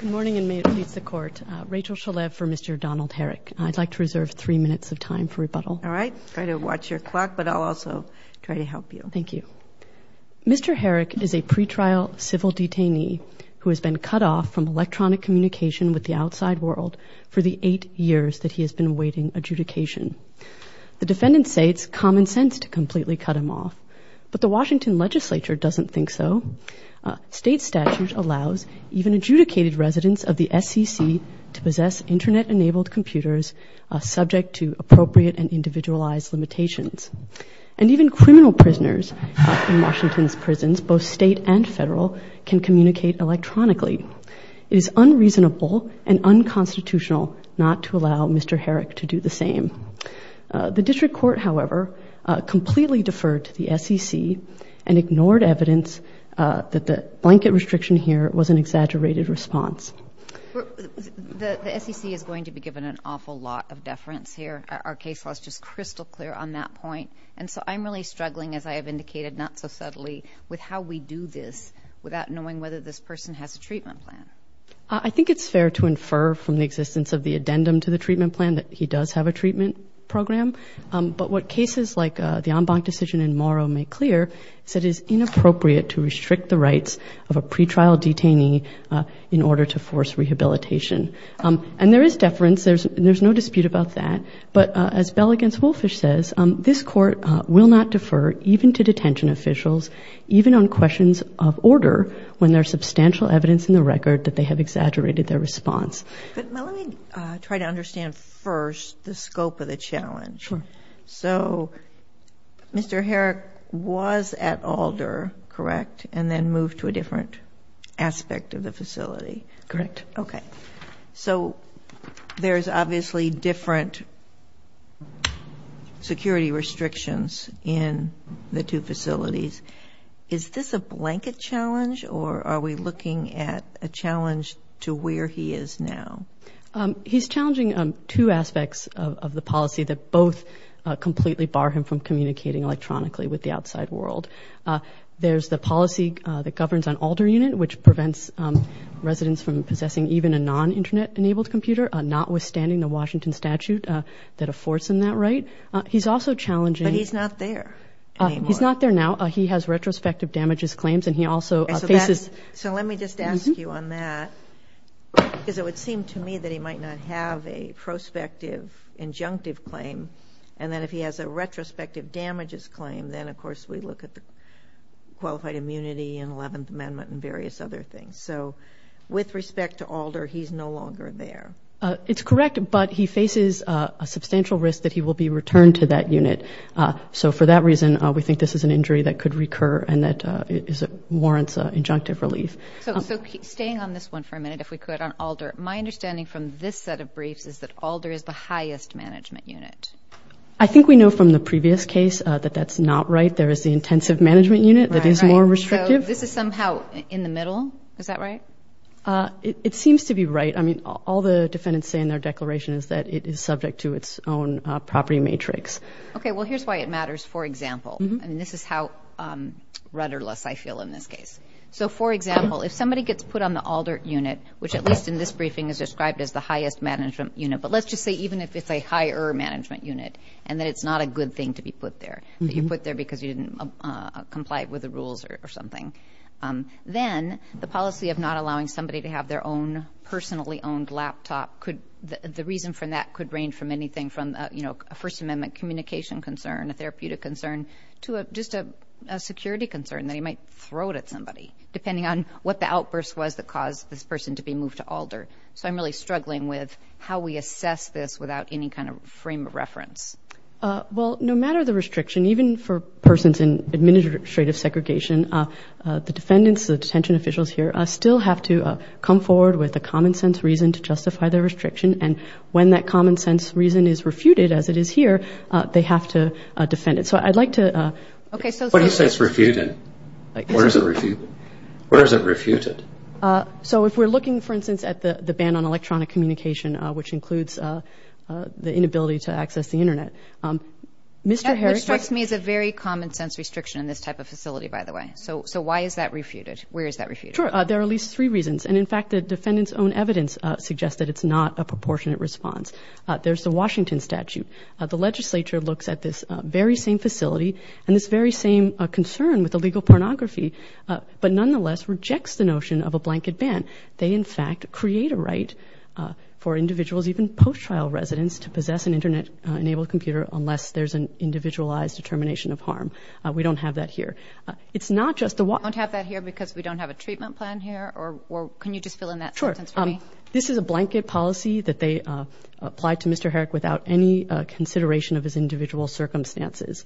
Good morning, and may it please the Court. Rachel Shalev for Mr. Donald Herrick. I'd like to reserve three minutes of time for rebuttal. All right. Try to watch your clock, but I'll also try to help you. Thank you. Mr. Herrick is a pretrial civil detainee who has been cut off from electronic communication with the outside world for the eight years that he has been awaiting adjudication. The defendants say it's common sense to completely cut him off, but the Washington Legislature doesn't think so. State statute allows even adjudicated residents of the SEC to possess Internet-enabled computers subject to appropriate and individualized limitations. And even criminal prisoners in Washington's prisons, both state and federal, can communicate electronically. It is unreasonable and unconstitutional not to allow Mr. Herrick to do the same. The district court, however, completely deferred to the SEC and ignored evidence that the blanket restriction here was an exaggerated response. The SEC is going to be given an awful lot of deference here. Our case law is just crystal clear on that point. And so I'm really struggling, as I have indicated not so subtly, with how we do this without knowing whether this person has a treatment plan. I think it's fair to infer from the existence of the addendum to the treatment plan that he does have a treatment program. But what cases like the Ombank decision in Morrow make clear is that it is inappropriate to restrict the rights of a pretrial detainee in order to force rehabilitation. And there is deference. There's no dispute about that. But as Bell v. Woolfish says, this Court will not defer even to detention officials, even on questions of order, when there is substantial evidence in the record that they have exaggerated their response. But let me try to understand first the scope of the challenge. Sure. So Mr. Herrick was at Alder, correct, and then moved to a different aspect of the facility? Correct. Okay. So there's obviously different security restrictions in the two facilities. Is this a blanket challenge, or are we looking at a challenge to where he is now? He's challenging two aspects of the policy that both completely bar him from communicating electronically with the outside world. There's the policy that governs on Alder Unit, which prevents residents from possessing even a non-Internet-enabled computer, notwithstanding the Washington statute that affords him that right. But he's not there anymore. He's not there now. He has retrospective damages claims. So let me just ask you on that, because it would seem to me that he might not have a prospective injunctive claim. And then if he has a retrospective damages claim, then, of course, we look at the Qualified Immunity and Eleventh Amendment and various other things. So with respect to Alder, he's no longer there. It's correct, but he faces a substantial risk that he will be returned to that unit. So for that reason, we think this is an injury that could recur and that warrants injunctive relief. So staying on this one for a minute, if we could, on Alder, my understanding from this set of briefs is that Alder is the highest management unit. I think we know from the previous case that that's not right. There is the intensive management unit that is more restrictive. So this is somehow in the middle. Is that right? It seems to be right. I mean, all the defendants say in their declaration is that it is subject to its own property matrix. Okay, well, here's why it matters. For example, and this is how rudderless I feel in this case. So, for example, if somebody gets put on the Alder unit, which at least in this briefing is described as the highest management unit, but let's just say even if it's a higher management unit and that it's not a good thing to be put there, that you're put there because you didn't comply with the rules or something, then the policy of not allowing somebody to have their own personally owned laptop, the reason for that could range from anything from a First Amendment communication concern, a therapeutic concern, to just a security concern that he might throw it at somebody, depending on what the outburst was that caused this person to be moved to Alder. So I'm really struggling with how we assess this without any kind of frame of reference. Well, no matter the restriction, even for persons in administrative segregation, the defendants, the detention officials here, still have to come forward with a common sense reason to justify their restriction. And when that common sense reason is refuted, as it is here, they have to defend it. So I'd like to. What do you say is refuted? What is it refuted? So if we're looking, for instance, at the ban on electronic communication, which includes the inability to access the Internet. That restricts me as a very common sense restriction in this type of facility, by the way. So why is that refuted? Where is that refuted? Sure. There are at least three reasons. And, in fact, the defendant's own evidence suggests that it's not a proportionate response. There's the Washington statute. The legislature looks at this very same facility and this very same concern with illegal pornography, but nonetheless rejects the notion of a blanket ban. They, in fact, create a right for individuals, even post-trial residents, to possess an Internet-enabled computer unless there's an individualized determination of harm. We don't have that here. You don't have that here because we don't have a treatment plan here? Or can you just fill in that sentence for me? Sure. This is a blanket policy that they applied to Mr. Herrick without any consideration of his individual circumstances.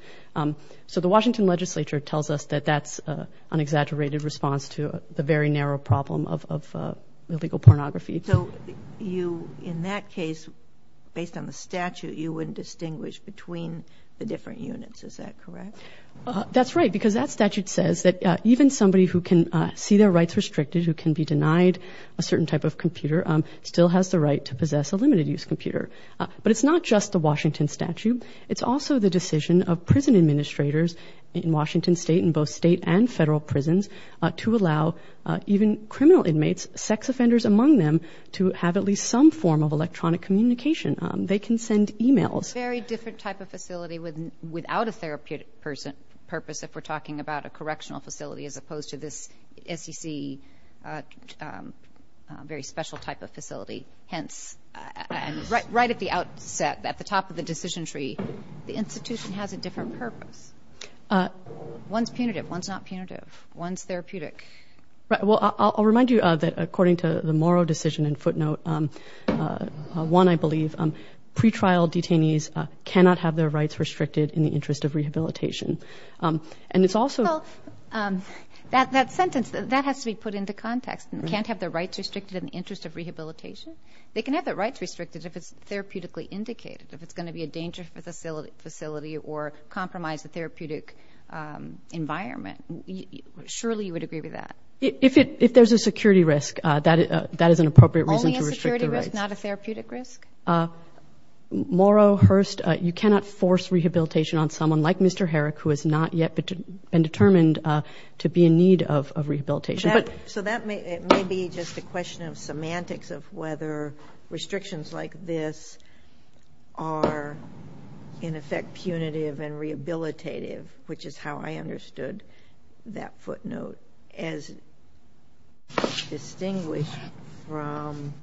So the Washington legislature tells us that that's an exaggerated response to the very narrow problem of illegal pornography. So you, in that case, based on the statute, you wouldn't distinguish between the different units. Is that correct? That's right, because that statute says that even somebody who can see their rights restricted, who can be denied a certain type of computer, still has the right to possess a limited-use computer. But it's not just the Washington statute. It's also the decision of prison administrators in Washington State, in both state and federal prisons, to allow even criminal inmates, sex offenders among them, to have at least some form of electronic communication. They can send e-mails. It's a very different type of facility without a therapeutic purpose, if we're talking about a correctional facility as opposed to this SEC, very special type of facility. Hence, right at the outset, at the top of the decision tree, the institution has a different purpose. One's punitive. One's not punitive. One's therapeutic. Well, I'll remind you that according to the Morrow decision in footnote 1, I believe, pretrial detainees cannot have their rights restricted in the interest of rehabilitation. And it's also – Well, that sentence, that has to be put into context. Can't have their rights restricted in the interest of rehabilitation? They can have their rights restricted if it's therapeutically indicated, if it's going to be a danger facility or compromise the therapeutic environment. Surely you would agree with that. If there's a security risk, that is an appropriate reason to restrict the rights. If it's not a therapeutic risk? Morrow, Hurst, you cannot force rehabilitation on someone like Mr. Herrick, who has not yet been determined to be in need of rehabilitation. So that may be just a question of semantics of whether restrictions like this are, in effect, punitive and rehabilitative, which is how I understood that footnote, as distinguished from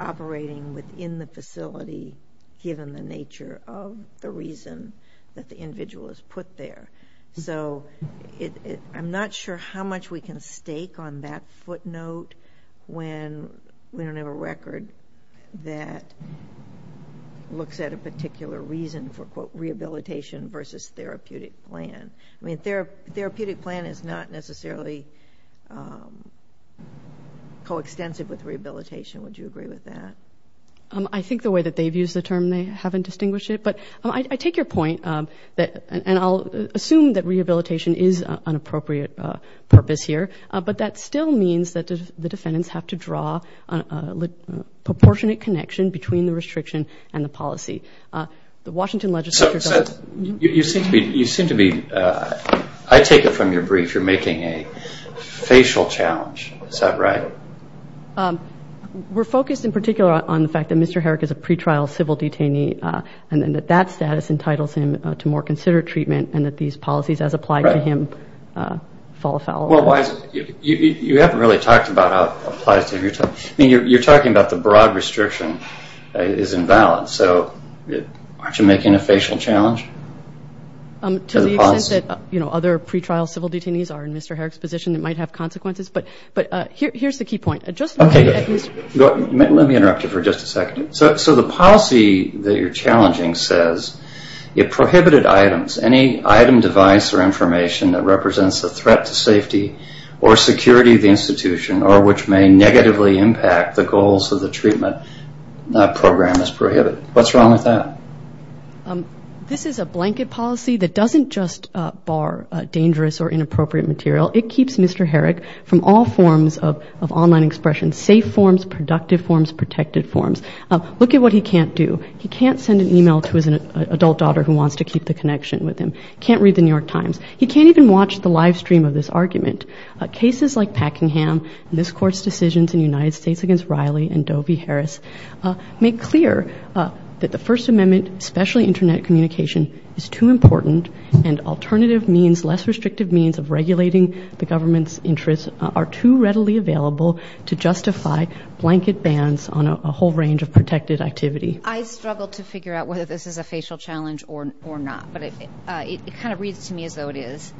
operating within the facility, given the nature of the reason that the individual is put there. So I'm not sure how much we can stake on that footnote when we don't have a record that looks at a particular reason for, quote, rehabilitation versus therapeutic plan. I mean, therapeutic plan is not necessarily coextensive with rehabilitation. Would you agree with that? I think the way that they've used the term, they haven't distinguished it. But I take your point, and I'll assume that rehabilitation is an appropriate purpose here, but that still means that the defendants have to draw a proportionate connection between the restriction and the policy. So you seem to be, I take it from your brief, you're making a facial challenge. Is that right? We're focused in particular on the fact that Mr. Herrick is a pretrial civil detainee and that that status entitles him to more considered treatment and that these policies, as applied to him, fall a foul on him. Well, you haven't really talked about how it applies to him. I mean, you're talking about the broad restriction is invalid. So aren't you making a facial challenge? To the extent that other pretrial civil detainees are in Mr. Herrick's position, it might have consequences. But here's the key point. Let me interrupt you for just a second. So the policy that you're challenging says it prohibited items, any item, device, or information that represents a threat to safety or security of the institution or which may negatively impact the goals of the treatment program is prohibited. What's wrong with that? This is a blanket policy that doesn't just bar dangerous or inappropriate material. It keeps Mr. Herrick from all forms of online expression, safe forms, productive forms, protected forms. Look at what he can't do. He can't send an email to his adult daughter who wants to keep the connection with him. He can't read the New York Times. He can't even watch the live stream of this argument. Cases like Packingham and this Court's decisions in the United States against Riley and Dovey Harris make clear that the First Amendment, especially Internet communication, is too important and alternative means, less restrictive means of regulating the government's interests, are too readily available to justify blanket bans on a whole range of protected activity. I struggle to figure out whether this is a facial challenge or not, but it kind of reads to me as though it is.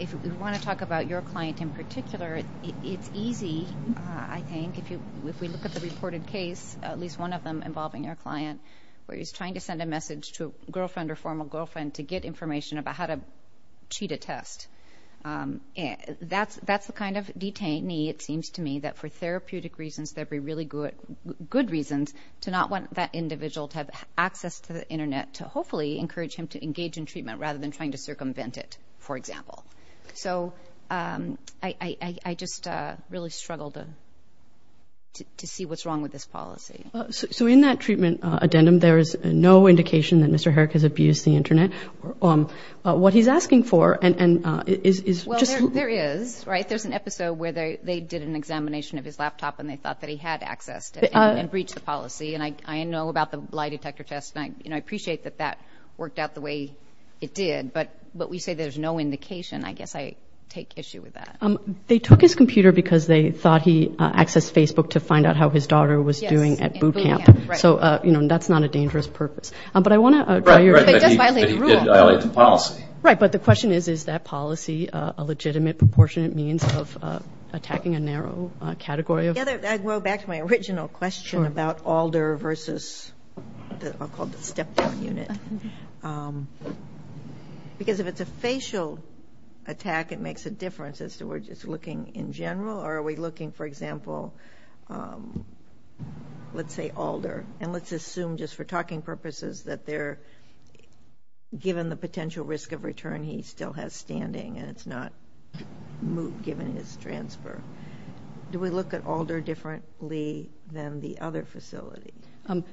If we want to talk about your client in particular, it's easy, I think, if we look at the reported case, at least one of them involving your client, where he's trying to send a message to a girlfriend or former girlfriend to get information about how to cheat a test. That's the kind of detainee, it seems to me, that for therapeutic reasons, that would be really good reasons to not want that individual to have access to the Internet to hopefully encourage him to engage in treatment rather than trying to circumvent it, for example. So I just really struggle to see what's wrong with this policy. So in that treatment addendum, there is no indication that Mr. Herrick has abused the Internet. What he's asking for is just— Well, there is, right? There's an episode where they did an examination of his laptop and they thought that he had access to it and breached the policy. And I know about the lie detector test, and I appreciate that that worked out the way it did. But we say there's no indication. I guess I take issue with that. They took his computer because they thought he accessed Facebook to find out how his daughter was doing at boot camp. So, you know, that's not a dangerous purpose. But I want to— Right, but he did violate the policy. Right, but the question is, is that policy a legitimate proportionate means of attacking a narrow category of— I'd go back to my original question about Alder versus—I'll call it the step-down unit. Because if it's a facial attack, it makes a difference as to whether it's looking in general or are we looking, for example, let's say Alder. And let's assume just for talking purposes that they're— given the potential risk of return, he still has standing and it's not moot given his transfer. Do we look at Alder differently than the other facility?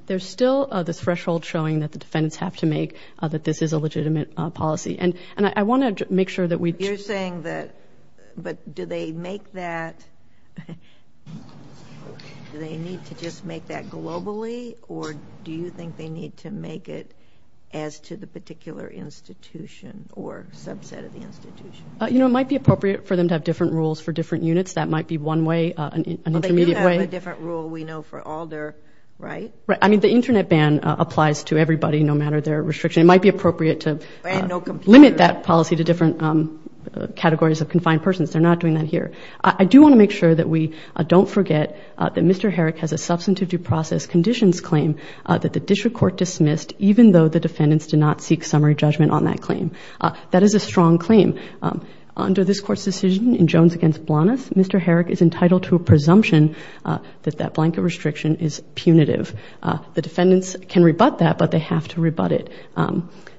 There's still this threshold showing that the defendants have to make that this is a legitimate policy. And I want to make sure that we— You're saying that—but do they make that— do they need to just make that globally or do you think they need to make it as to the particular institution or subset of the institution? You know, it might be appropriate for them to have different rules for different units. That might be one way, an intermediate way. But they do have a different rule, we know, for Alder, right? I mean, the Internet ban applies to everybody, no matter their restriction. It might be appropriate to limit that policy to different categories of confined persons. They're not doing that here. I do want to make sure that we don't forget that Mr. Herrick has a substantive due process conditions claim that the district court dismissed even though the defendants did not seek summary judgment on that claim. That is a strong claim. Under this Court's decision in Jones v. Blanas, Mr. Herrick is entitled to a presumption that that blanket restriction is punitive. The defendants can rebut that, but they have to rebut it.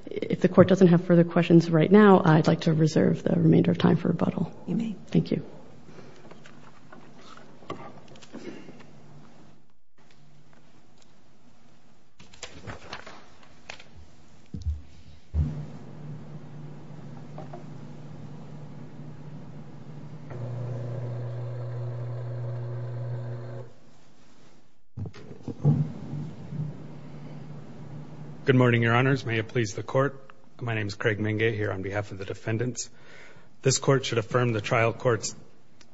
If the Court doesn't have further questions right now, I'd like to reserve the remainder of time for rebuttal. You may. Thank you. Good morning, Your Honors. May it please the Court. My name is Craig Minge here on behalf of the defendants. This Court should affirm the trial court's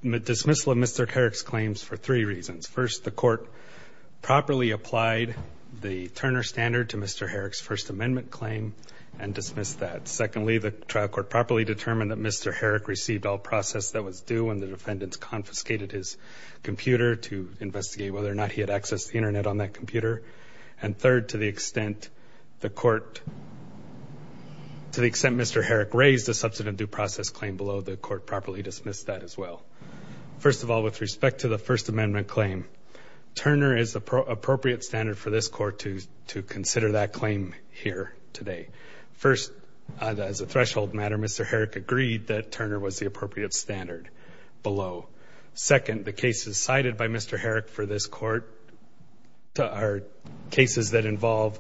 dismissal of Mr. Herrick's claims for three reasons. First, the Court properly applied the Turner Standard to Mr. Herrick's First Amendment claim and dismissed that. Secondly, the trial court properly determined that Mr. Herrick received all process that was due when the defendants confiscated his computer to investigate whether or not he had accessed the Internet on that computer. And third, to the extent Mr. Herrick raised a substantive due process claim below, the Court properly dismissed that as well. First of all, with respect to the First Amendment claim, Turner is the appropriate standard for this Court to consider that claim here today. First, as a threshold matter, Mr. Herrick agreed that Turner was the appropriate standard below. Second, the cases cited by Mr. Herrick for this Court are cases that involve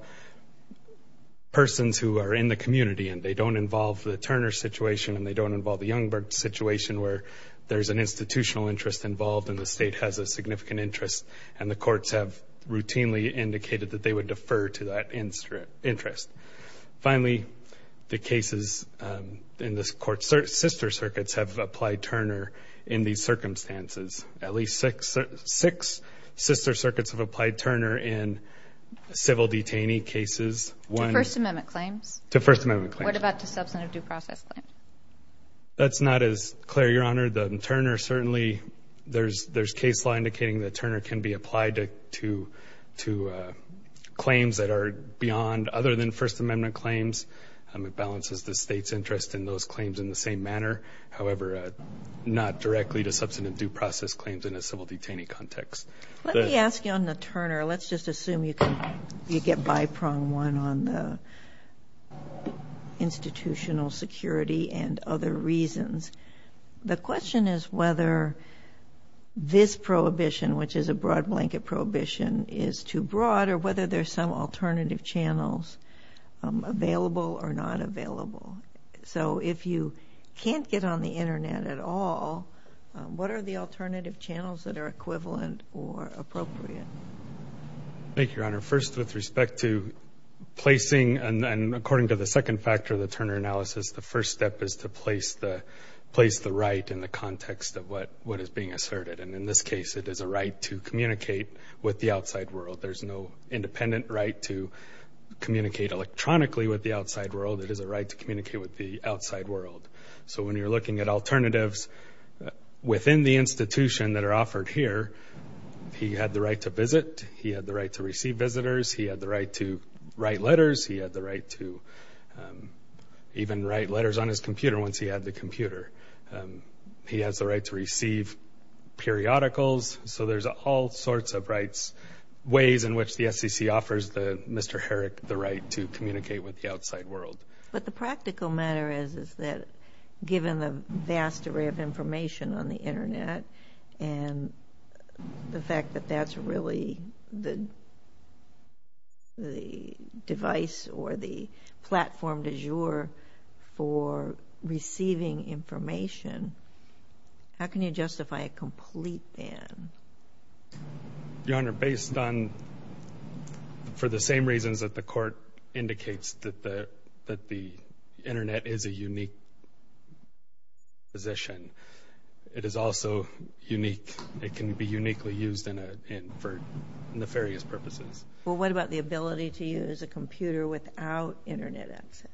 persons who are in the community and they don't involve the Turner situation and they don't involve the Youngberg situation where there's an institutional interest involved and the State has a significant interest and the courts have routinely indicated that they would defer to that interest. Finally, the cases in this Court's sister circuits have applied Turner in these circumstances. At least six sister circuits have applied Turner in civil detainee cases. To First Amendment claims? To First Amendment claims. What about the substantive due process claim? That's not as clear, Your Honor. The Turner certainly, there's case law indicating that Turner can be applied to claims that are beyond other than First Amendment claims. It balances the State's interest in those claims in the same manner. However, not directly to substantive due process claims in a civil detainee context. Let me ask you on the Turner. Let's just assume you get by-pronged one on the institutional security and other reasons. The question is whether this prohibition, which is a broad-blanket prohibition, is too broad or whether there's some alternative channels available or not available. So if you can't get on the Internet at all, what are the alternative channels that are equivalent or appropriate? Thank you, Your Honor. First, with respect to placing, and according to the second factor of the Turner analysis, the first step is to place the right in the context of what is being asserted. And in this case, it is a right to communicate with the outside world. There's no independent right to communicate electronically with the outside world. It is a right to communicate with the outside world. So when you're looking at alternatives within the institution that are offered here, he had the right to visit. He had the right to receive visitors. He had the right to write letters. He had the right to even write letters on his computer once he had the computer. He has the right to receive periodicals. So there's all sorts of rights, ways in which the SEC offers Mr. Herrick the right to communicate with the outside world. But the practical matter is that given the vast array of information on the Internet and the fact that that's really the device or the platform du jour for receiving information, how can you justify a complete ban? Your Honor, based on, for the same reasons that the Court indicates, that the Internet is a unique position, it is also unique. It can be uniquely used for nefarious purposes. Well, what about the ability to use a computer without Internet access?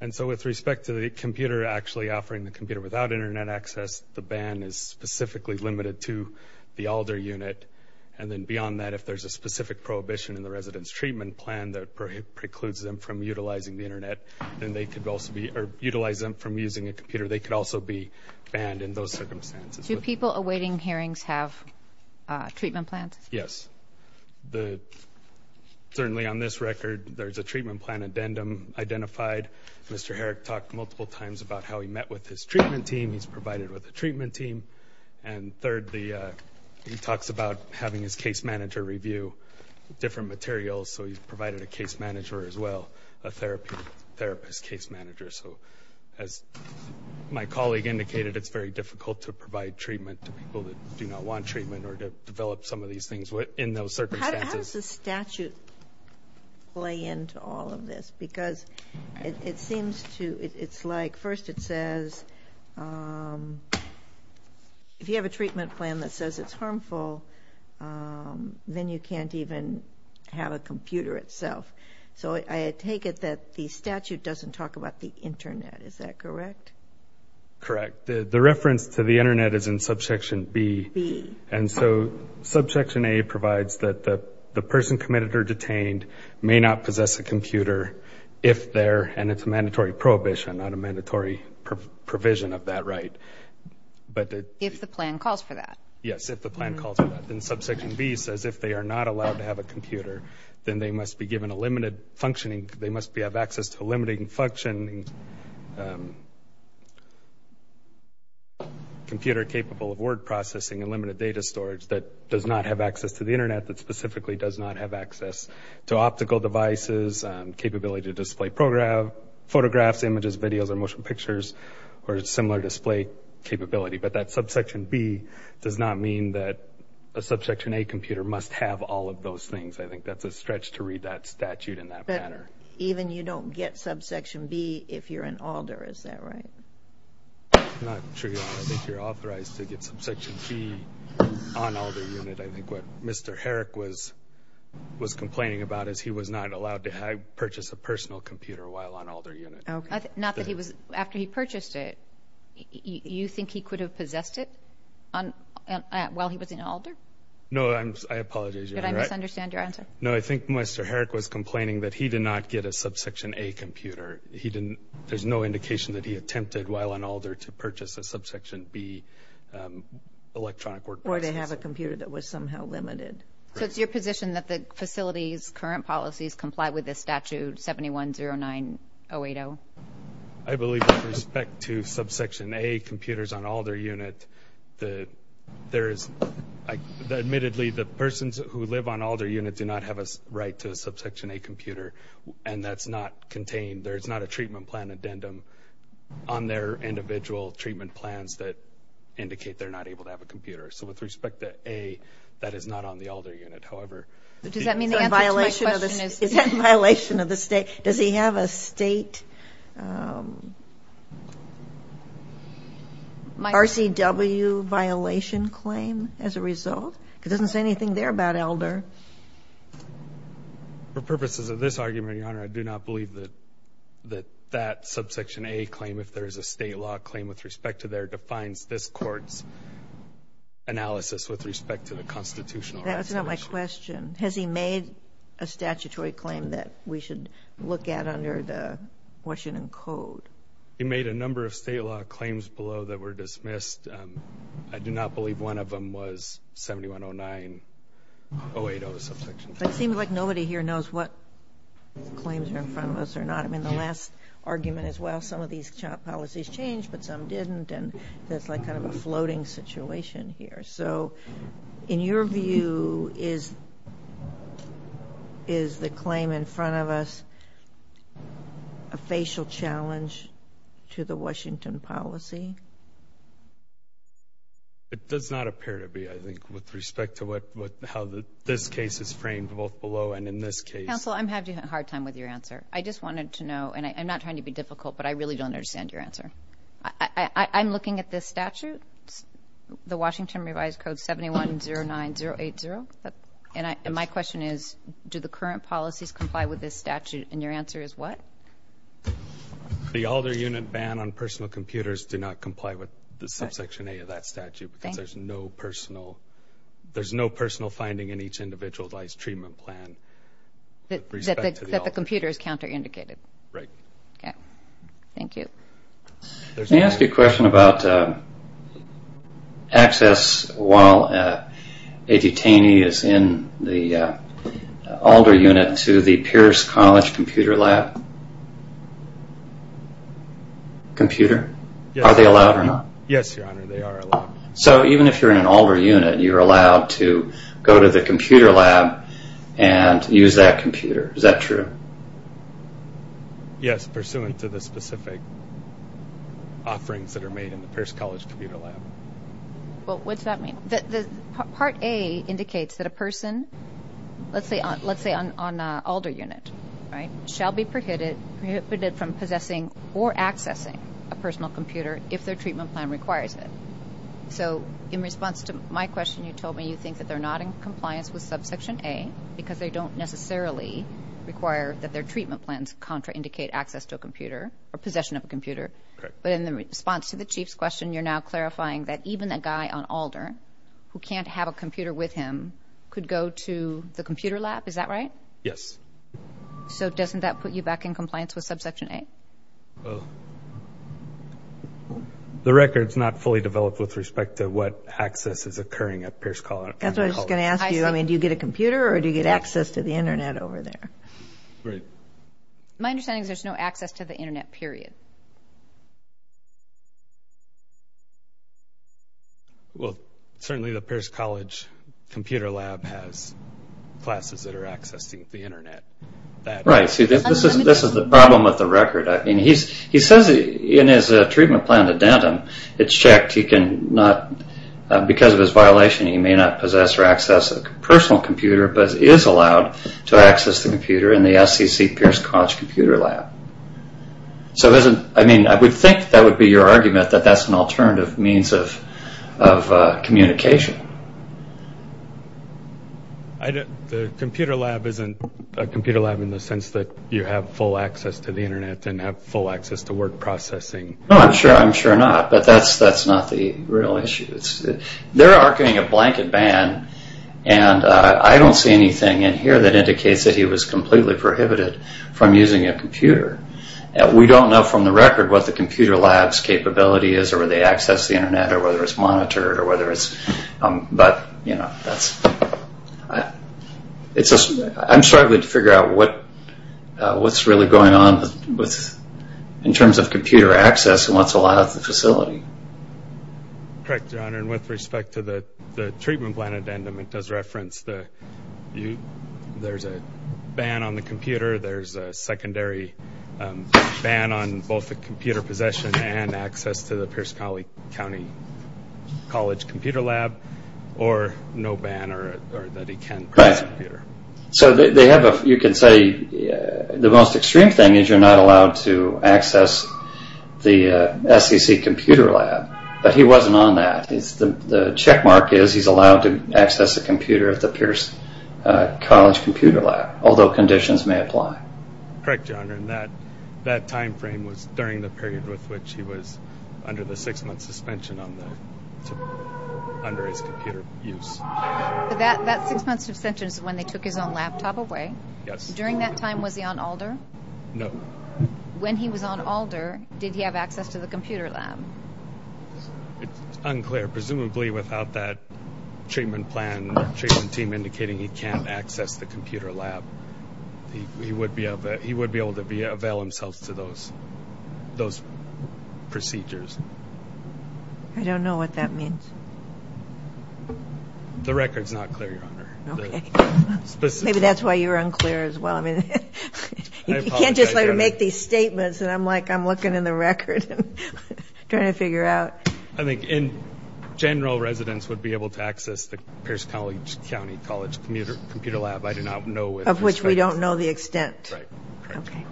And so with respect to the computer actually offering the computer without Internet access, the ban is specifically limited to the Alder unit. And then beyond that, if there's a specific prohibition in the resident's treatment plan that precludes them from utilizing the Internet, then they could also be or utilize them from using a computer. They could also be banned in those circumstances. Do people awaiting hearings have treatment plans? Yes. Certainly on this record, there's a treatment plan addendum identified. Mr. Herrick talked multiple times about how he met with his treatment team. He's provided with a treatment team. And third, he talks about having his case manager review different materials, so he's provided a case manager as well, a therapist case manager. So as my colleague indicated, it's very difficult to provide treatment to people that do not want treatment or to develop some of these things in those circumstances. How does the statute play into all of this? Because it seems to, it's like first it says, if you have a treatment plan that says it's harmful, then you can't even have a computer itself. So I take it that the statute doesn't talk about the Internet. Is that correct? Correct. The reference to the Internet is in Subsection B. And so Subsection A provides that the person committed or detained may not possess a computer if they're, and it's a mandatory prohibition, not a mandatory provision of that right. If the plan calls for that. Yes, if the plan calls for that. Then Subsection B says if they are not allowed to have a computer, then they must be given a limited functioning, they must have access to a limited functioning computer capable of word processing and limited data storage that does not have access to the Internet, that specifically does not have access to optical devices, capability to display photographs, images, videos, or motion pictures, or similar display capability. But that Subsection B does not mean that a Subsection A computer must have all of those things. I think that's a stretch to read that statute in that manner. But even you don't get Subsection B if you're in ALDR. Is that right? I'm not sure you are. I think you're authorized to get Subsection B on ALDR unit. I think what Mr. Herrick was complaining about is he was not allowed to purchase a personal computer while on ALDR unit. Not that he was after he purchased it. You think he could have possessed it while he was in ALDR? No, I apologize. Did I misunderstand your answer? No, I think Mr. Herrick was complaining that he did not get a Subsection A computer. There's no indication that he attempted while on ALDR to purchase a Subsection B electronic word processor. Or to have a computer that was somehow limited. So it's your position that the facility's current policies comply with this statute 7109080? I believe with respect to Subsection A computers on ALDR unit, there is admittedly the persons who live on ALDR unit do not have a right to a Subsection A computer. And that's not contained. There's not a treatment plan addendum on their individual treatment plans that indicate they're not able to have a computer. So with respect to A, that is not on the ALDR unit. Does that mean the answer to my question is? Is that a violation of the state? Does he have a state RCW violation claim as a result? Because it doesn't say anything there about ALDR. For purposes of this argument, Your Honor, I do not believe that that Subsection A claim, if there is a state law claim with respect to there, defines this Court's analysis with respect to the constitutional resolution. That's not my question. Has he made a statutory claim that we should look at under the Washington Code? He made a number of state law claims below that were dismissed. I do not believe one of them was 7109080, the Subsection A. It seems like nobody here knows what claims are in front of us or not. I mean, the last argument is, well, some of these policies changed, but some didn't, and that's like kind of a floating situation here. So in your view, is the claim in front of us a facial challenge to the Washington policy? It does not appear to be, I think, with respect to how this case is framed both below and in this case. Counsel, I'm having a hard time with your answer. I just wanted to know, and I'm not trying to be difficult, but I really don't understand your answer. I'm looking at this statute, the Washington Revised Code 7109080, and my question is, do the current policies comply with this statute? And your answer is what? The Alder Unit Ban on Personal Computers do not comply with the Subsection A of that statute because there's no personal finding in each individualized treatment plan. That the computer is counter-indicated. Right. Okay. Thank you. May I ask you a question about access while a detainee is in the Alder Unit to the Pierce College Computer Lab? Computer? Yes. Are they allowed or not? Yes, Your Honor, they are allowed. So even if you're in an Alder Unit, you're allowed to go to the computer lab and use that computer. Is that true? Yes, pursuant to the specific offerings that are made in the Pierce College Computer Lab. Well, what does that mean? Part A indicates that a person, let's say on an Alder Unit, right, shall be prohibited from possessing or accessing a personal computer if their treatment plan requires it. So in response to my question, you told me you think that they're not in compliance with Subsection A because they don't necessarily require that their treatment plans counter-indicate access to a computer or possession of a computer. But in response to the Chief's question, you're now clarifying that even a guy on Alder who can't have a computer with him could go to the computer lab. Is that right? Yes. So doesn't that put you back in compliance with Subsection A? Well, the record's not fully developed with respect to what access is occurring at Pierce College. That's what I was going to ask you. I mean, do you get a computer or do you get access to the Internet over there? Right. My understanding is there's no access to the Internet, period. Well, certainly the Pierce College Computer Lab has classes that are accessing the Internet. Right. This is the problem with the record. I mean, he says in his treatment plan addendum, it's checked. He can not, because of his violation, he may not possess or access a personal computer, but is allowed to access the computer in the SCC Pierce College Computer Lab. So I mean, I would think that would be your argument that that's an alternative means of communication. The computer lab isn't a computer lab in the sense that you have full access to the Internet and have full access to word processing. No, I'm sure not, but that's not the real issue. They're arguing a blanket ban, and I don't see anything in here that indicates that he was completely prohibited from using a computer. We don't know from the record what the computer lab's capability is or whether they access the Internet or whether it's monitored or whether it's, but, you know, I'm struggling to figure out what's really going on in terms of computer access and what's allowed at the facility. Correct, John, and with respect to the treatment plan addendum, it does reference that there's a ban on the computer, there's a secondary ban on both the computer possession and access to the Pierce County College Computer Lab, or no ban or that he can't use a computer. Right. So they have a, you could say the most extreme thing is you're not allowed to access the SEC Computer Lab, but he wasn't on that. The checkmark is he's allowed to access a computer at the Pierce College Computer Lab, although conditions may apply. Correct, John, and that timeframe was during the period with which he was under the six-month suspension under his computer use. That six-month suspension is when they took his own laptop away. Yes. During that time, was he on ALDR? No. When he was on ALDR, did he have access to the computer lab? It's unclear. Presumably without that treatment plan, treatment team indicating he can't access the computer lab, he would be able to avail himself to those procedures. I don't know what that means. The record's not clear, Your Honor. Okay. Maybe that's why you're unclear as well. I mean, you can't just make these statements, and I'm like I'm looking in the record and trying to figure out. I think general residents would be able to access the Pierce County College Computer Lab. Of which we don't know the extent. Right. Okay.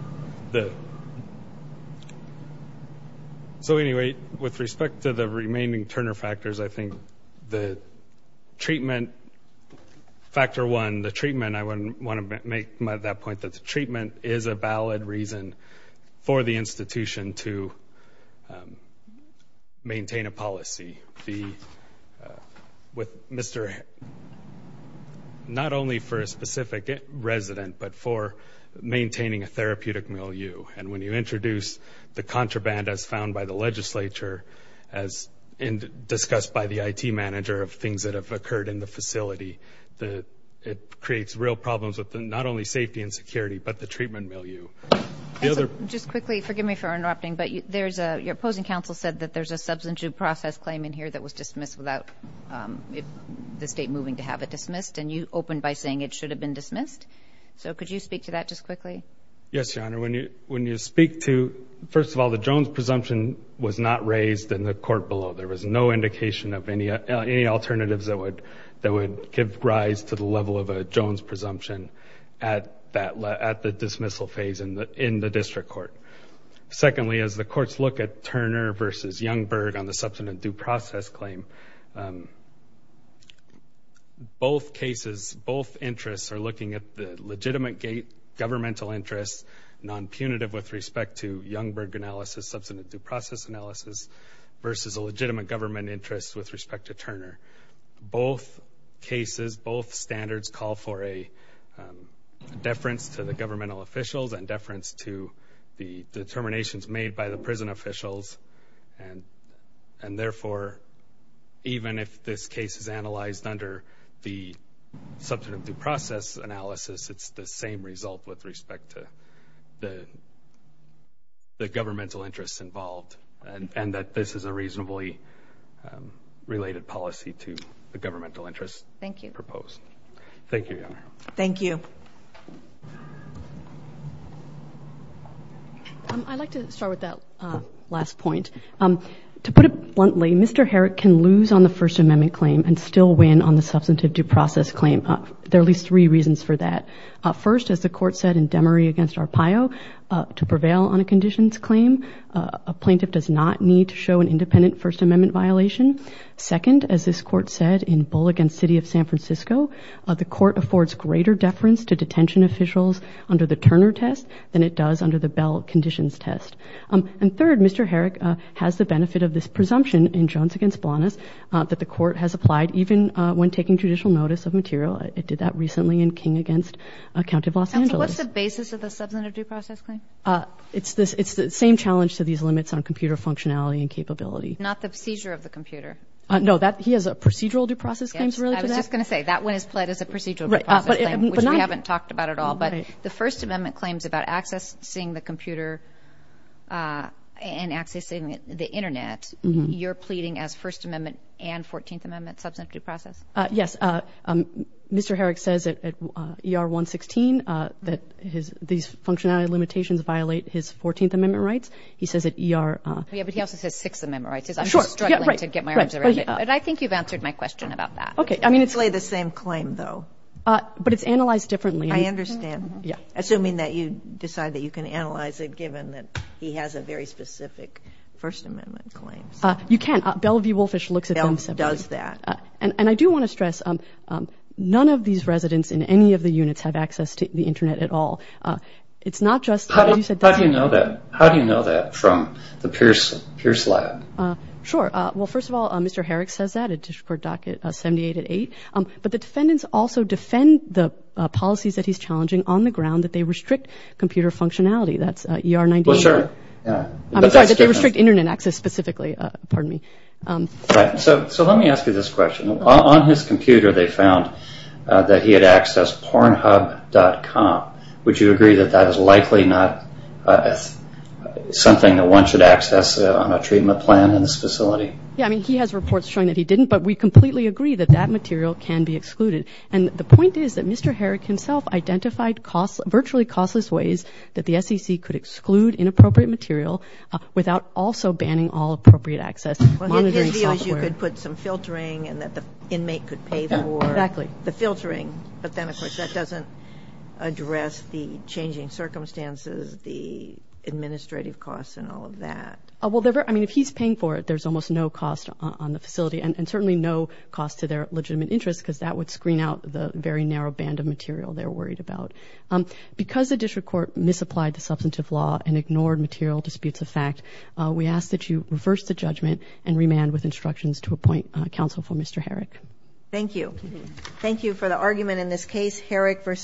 So, anyway, with respect to the remaining Turner factors, I think the treatment, factor one, the treatment, I want to make that point that the treatment is a valid reason for the institution to maintain a policy. Not only for a specific resident, but for maintaining a therapeutic milieu. And when you introduce the contraband as found by the legislature, as discussed by the IT manager of things that have occurred in the facility, it creates real problems with not only safety and security, but the treatment milieu. Just quickly, forgive me for interrupting, but your opposing counsel said that there's a substantive process claim in here that was dismissed without the state moving to have it dismissed, and you opened by saying it should have been dismissed. So could you speak to that just quickly? Yes, Your Honor. When you speak to, first of all, the Jones presumption was not raised in the court below. There was no indication of any alternatives that would give rise to the level of a Jones presumption at the dismissal phase in the district court. Secondly, as the courts look at Turner versus Youngberg on the substantive due process claim, both cases, both interests are looking at the legitimate governmental interest, non-punitive with respect to Youngberg analysis, substantive due process analysis, versus a legitimate government interest with respect to Turner. Both cases, both standards call for a deference to the governmental officials and deference to the determinations made by the prison officials, and therefore even if this case is analyzed under the substantive due process analysis, it's the same result with respect to the governmental interests involved and that this is a reasonably related policy to the governmental interests proposed. Thank you. Thank you, Your Honor. Thank you. I'd like to start with that last point. To put it bluntly, Mr. Herrick can lose on the First Amendment claim and still win on the substantive due process claim. There are at least three reasons for that. First, as the court said in Demery against Arpaio, to prevail on a conditions claim, a plaintiff does not need to show an independent First Amendment violation. Second, as this court said in Bullock against City of San Francisco, the court affords greater deference to detention officials under the Turner test than it does under the Bell conditions test. And third, Mr. Herrick has the benefit of this presumption in Jones against Blanas that the court has applied even when taking judicial notice of material. It did that recently in King against County of Los Angeles. And so what's the basis of the substantive due process claim? It's the same challenge to these limits on computer functionality and capability. Not the seizure of the computer. No, he has procedural due process claims related to that? I was just going to say, that one is pled as a procedural due process claim, which we haven't talked about at all. But the First Amendment claims about accessing the computer and accessing the Internet, you're pleading as First Amendment and 14th Amendment substantive due process? Yes. Mr. Herrick says at ER 116 that these functionality limitations violate his 14th Amendment rights. He says at ER— Yeah, but he also says Sixth Amendment rights. I'm just struggling to get my arms around it. But I think you've answered my question about that. It's basically the same claim, though. But it's analyzed differently. I understand, assuming that you decide that you can analyze it given that he has a very specific First Amendment claim. You can. Bell v. Wolfish looks at them separately. Bell does that. And I do want to stress, none of these residents in any of the units have access to the Internet at all. It's not just— How do you know that from the Pierce Lab? Sure. Well, first of all, Mr. Herrick says that at District Court Docket 78 at 8. But the defendants also defend the policies that he's challenging on the ground that they restrict computer functionality. That's ER 98. Well, sure. I'm sorry, that they restrict Internet access specifically. Pardon me. So let me ask you this question. On his computer, they found that he had accessed PornHub.com. Would you agree that that is likely not something that one should access on a treatment plan in this facility? Yeah. I mean, he has reports showing that he didn't. But we completely agree that that material can be excluded. And the point is that Mr. Herrick himself identified virtually costless ways that the SEC could exclude inappropriate material without also banning all appropriate access to monitoring software. Well, his view is you could put some filtering and that the inmate could pay for the filtering. But then, of course, that doesn't address the changing circumstances, the administrative costs and all of that. Well, I mean, if he's paying for it, there's almost no cost on the facility and certainly no cost to their legitimate interest because that would screen out the very narrow band of material they're worried about. Because the District Court misapplied the substantive law and ignored material disputes of fact, we ask that you reverse the judgment and remand with instructions to appoint counsel for Mr. Herrick. Thank you. Thank you for the argument in this case. Herrick v.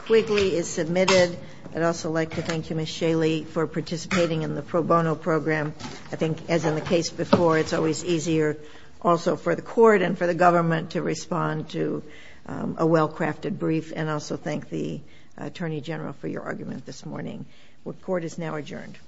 Quigley is submitted. I'd also like to thank you, Ms. Shaley, for participating in the pro bono program. I think, as in the case before, it's always easier also for the court and for the government to respond to a well-crafted brief and also thank the Attorney General for your argument this morning. The court is now adjourned.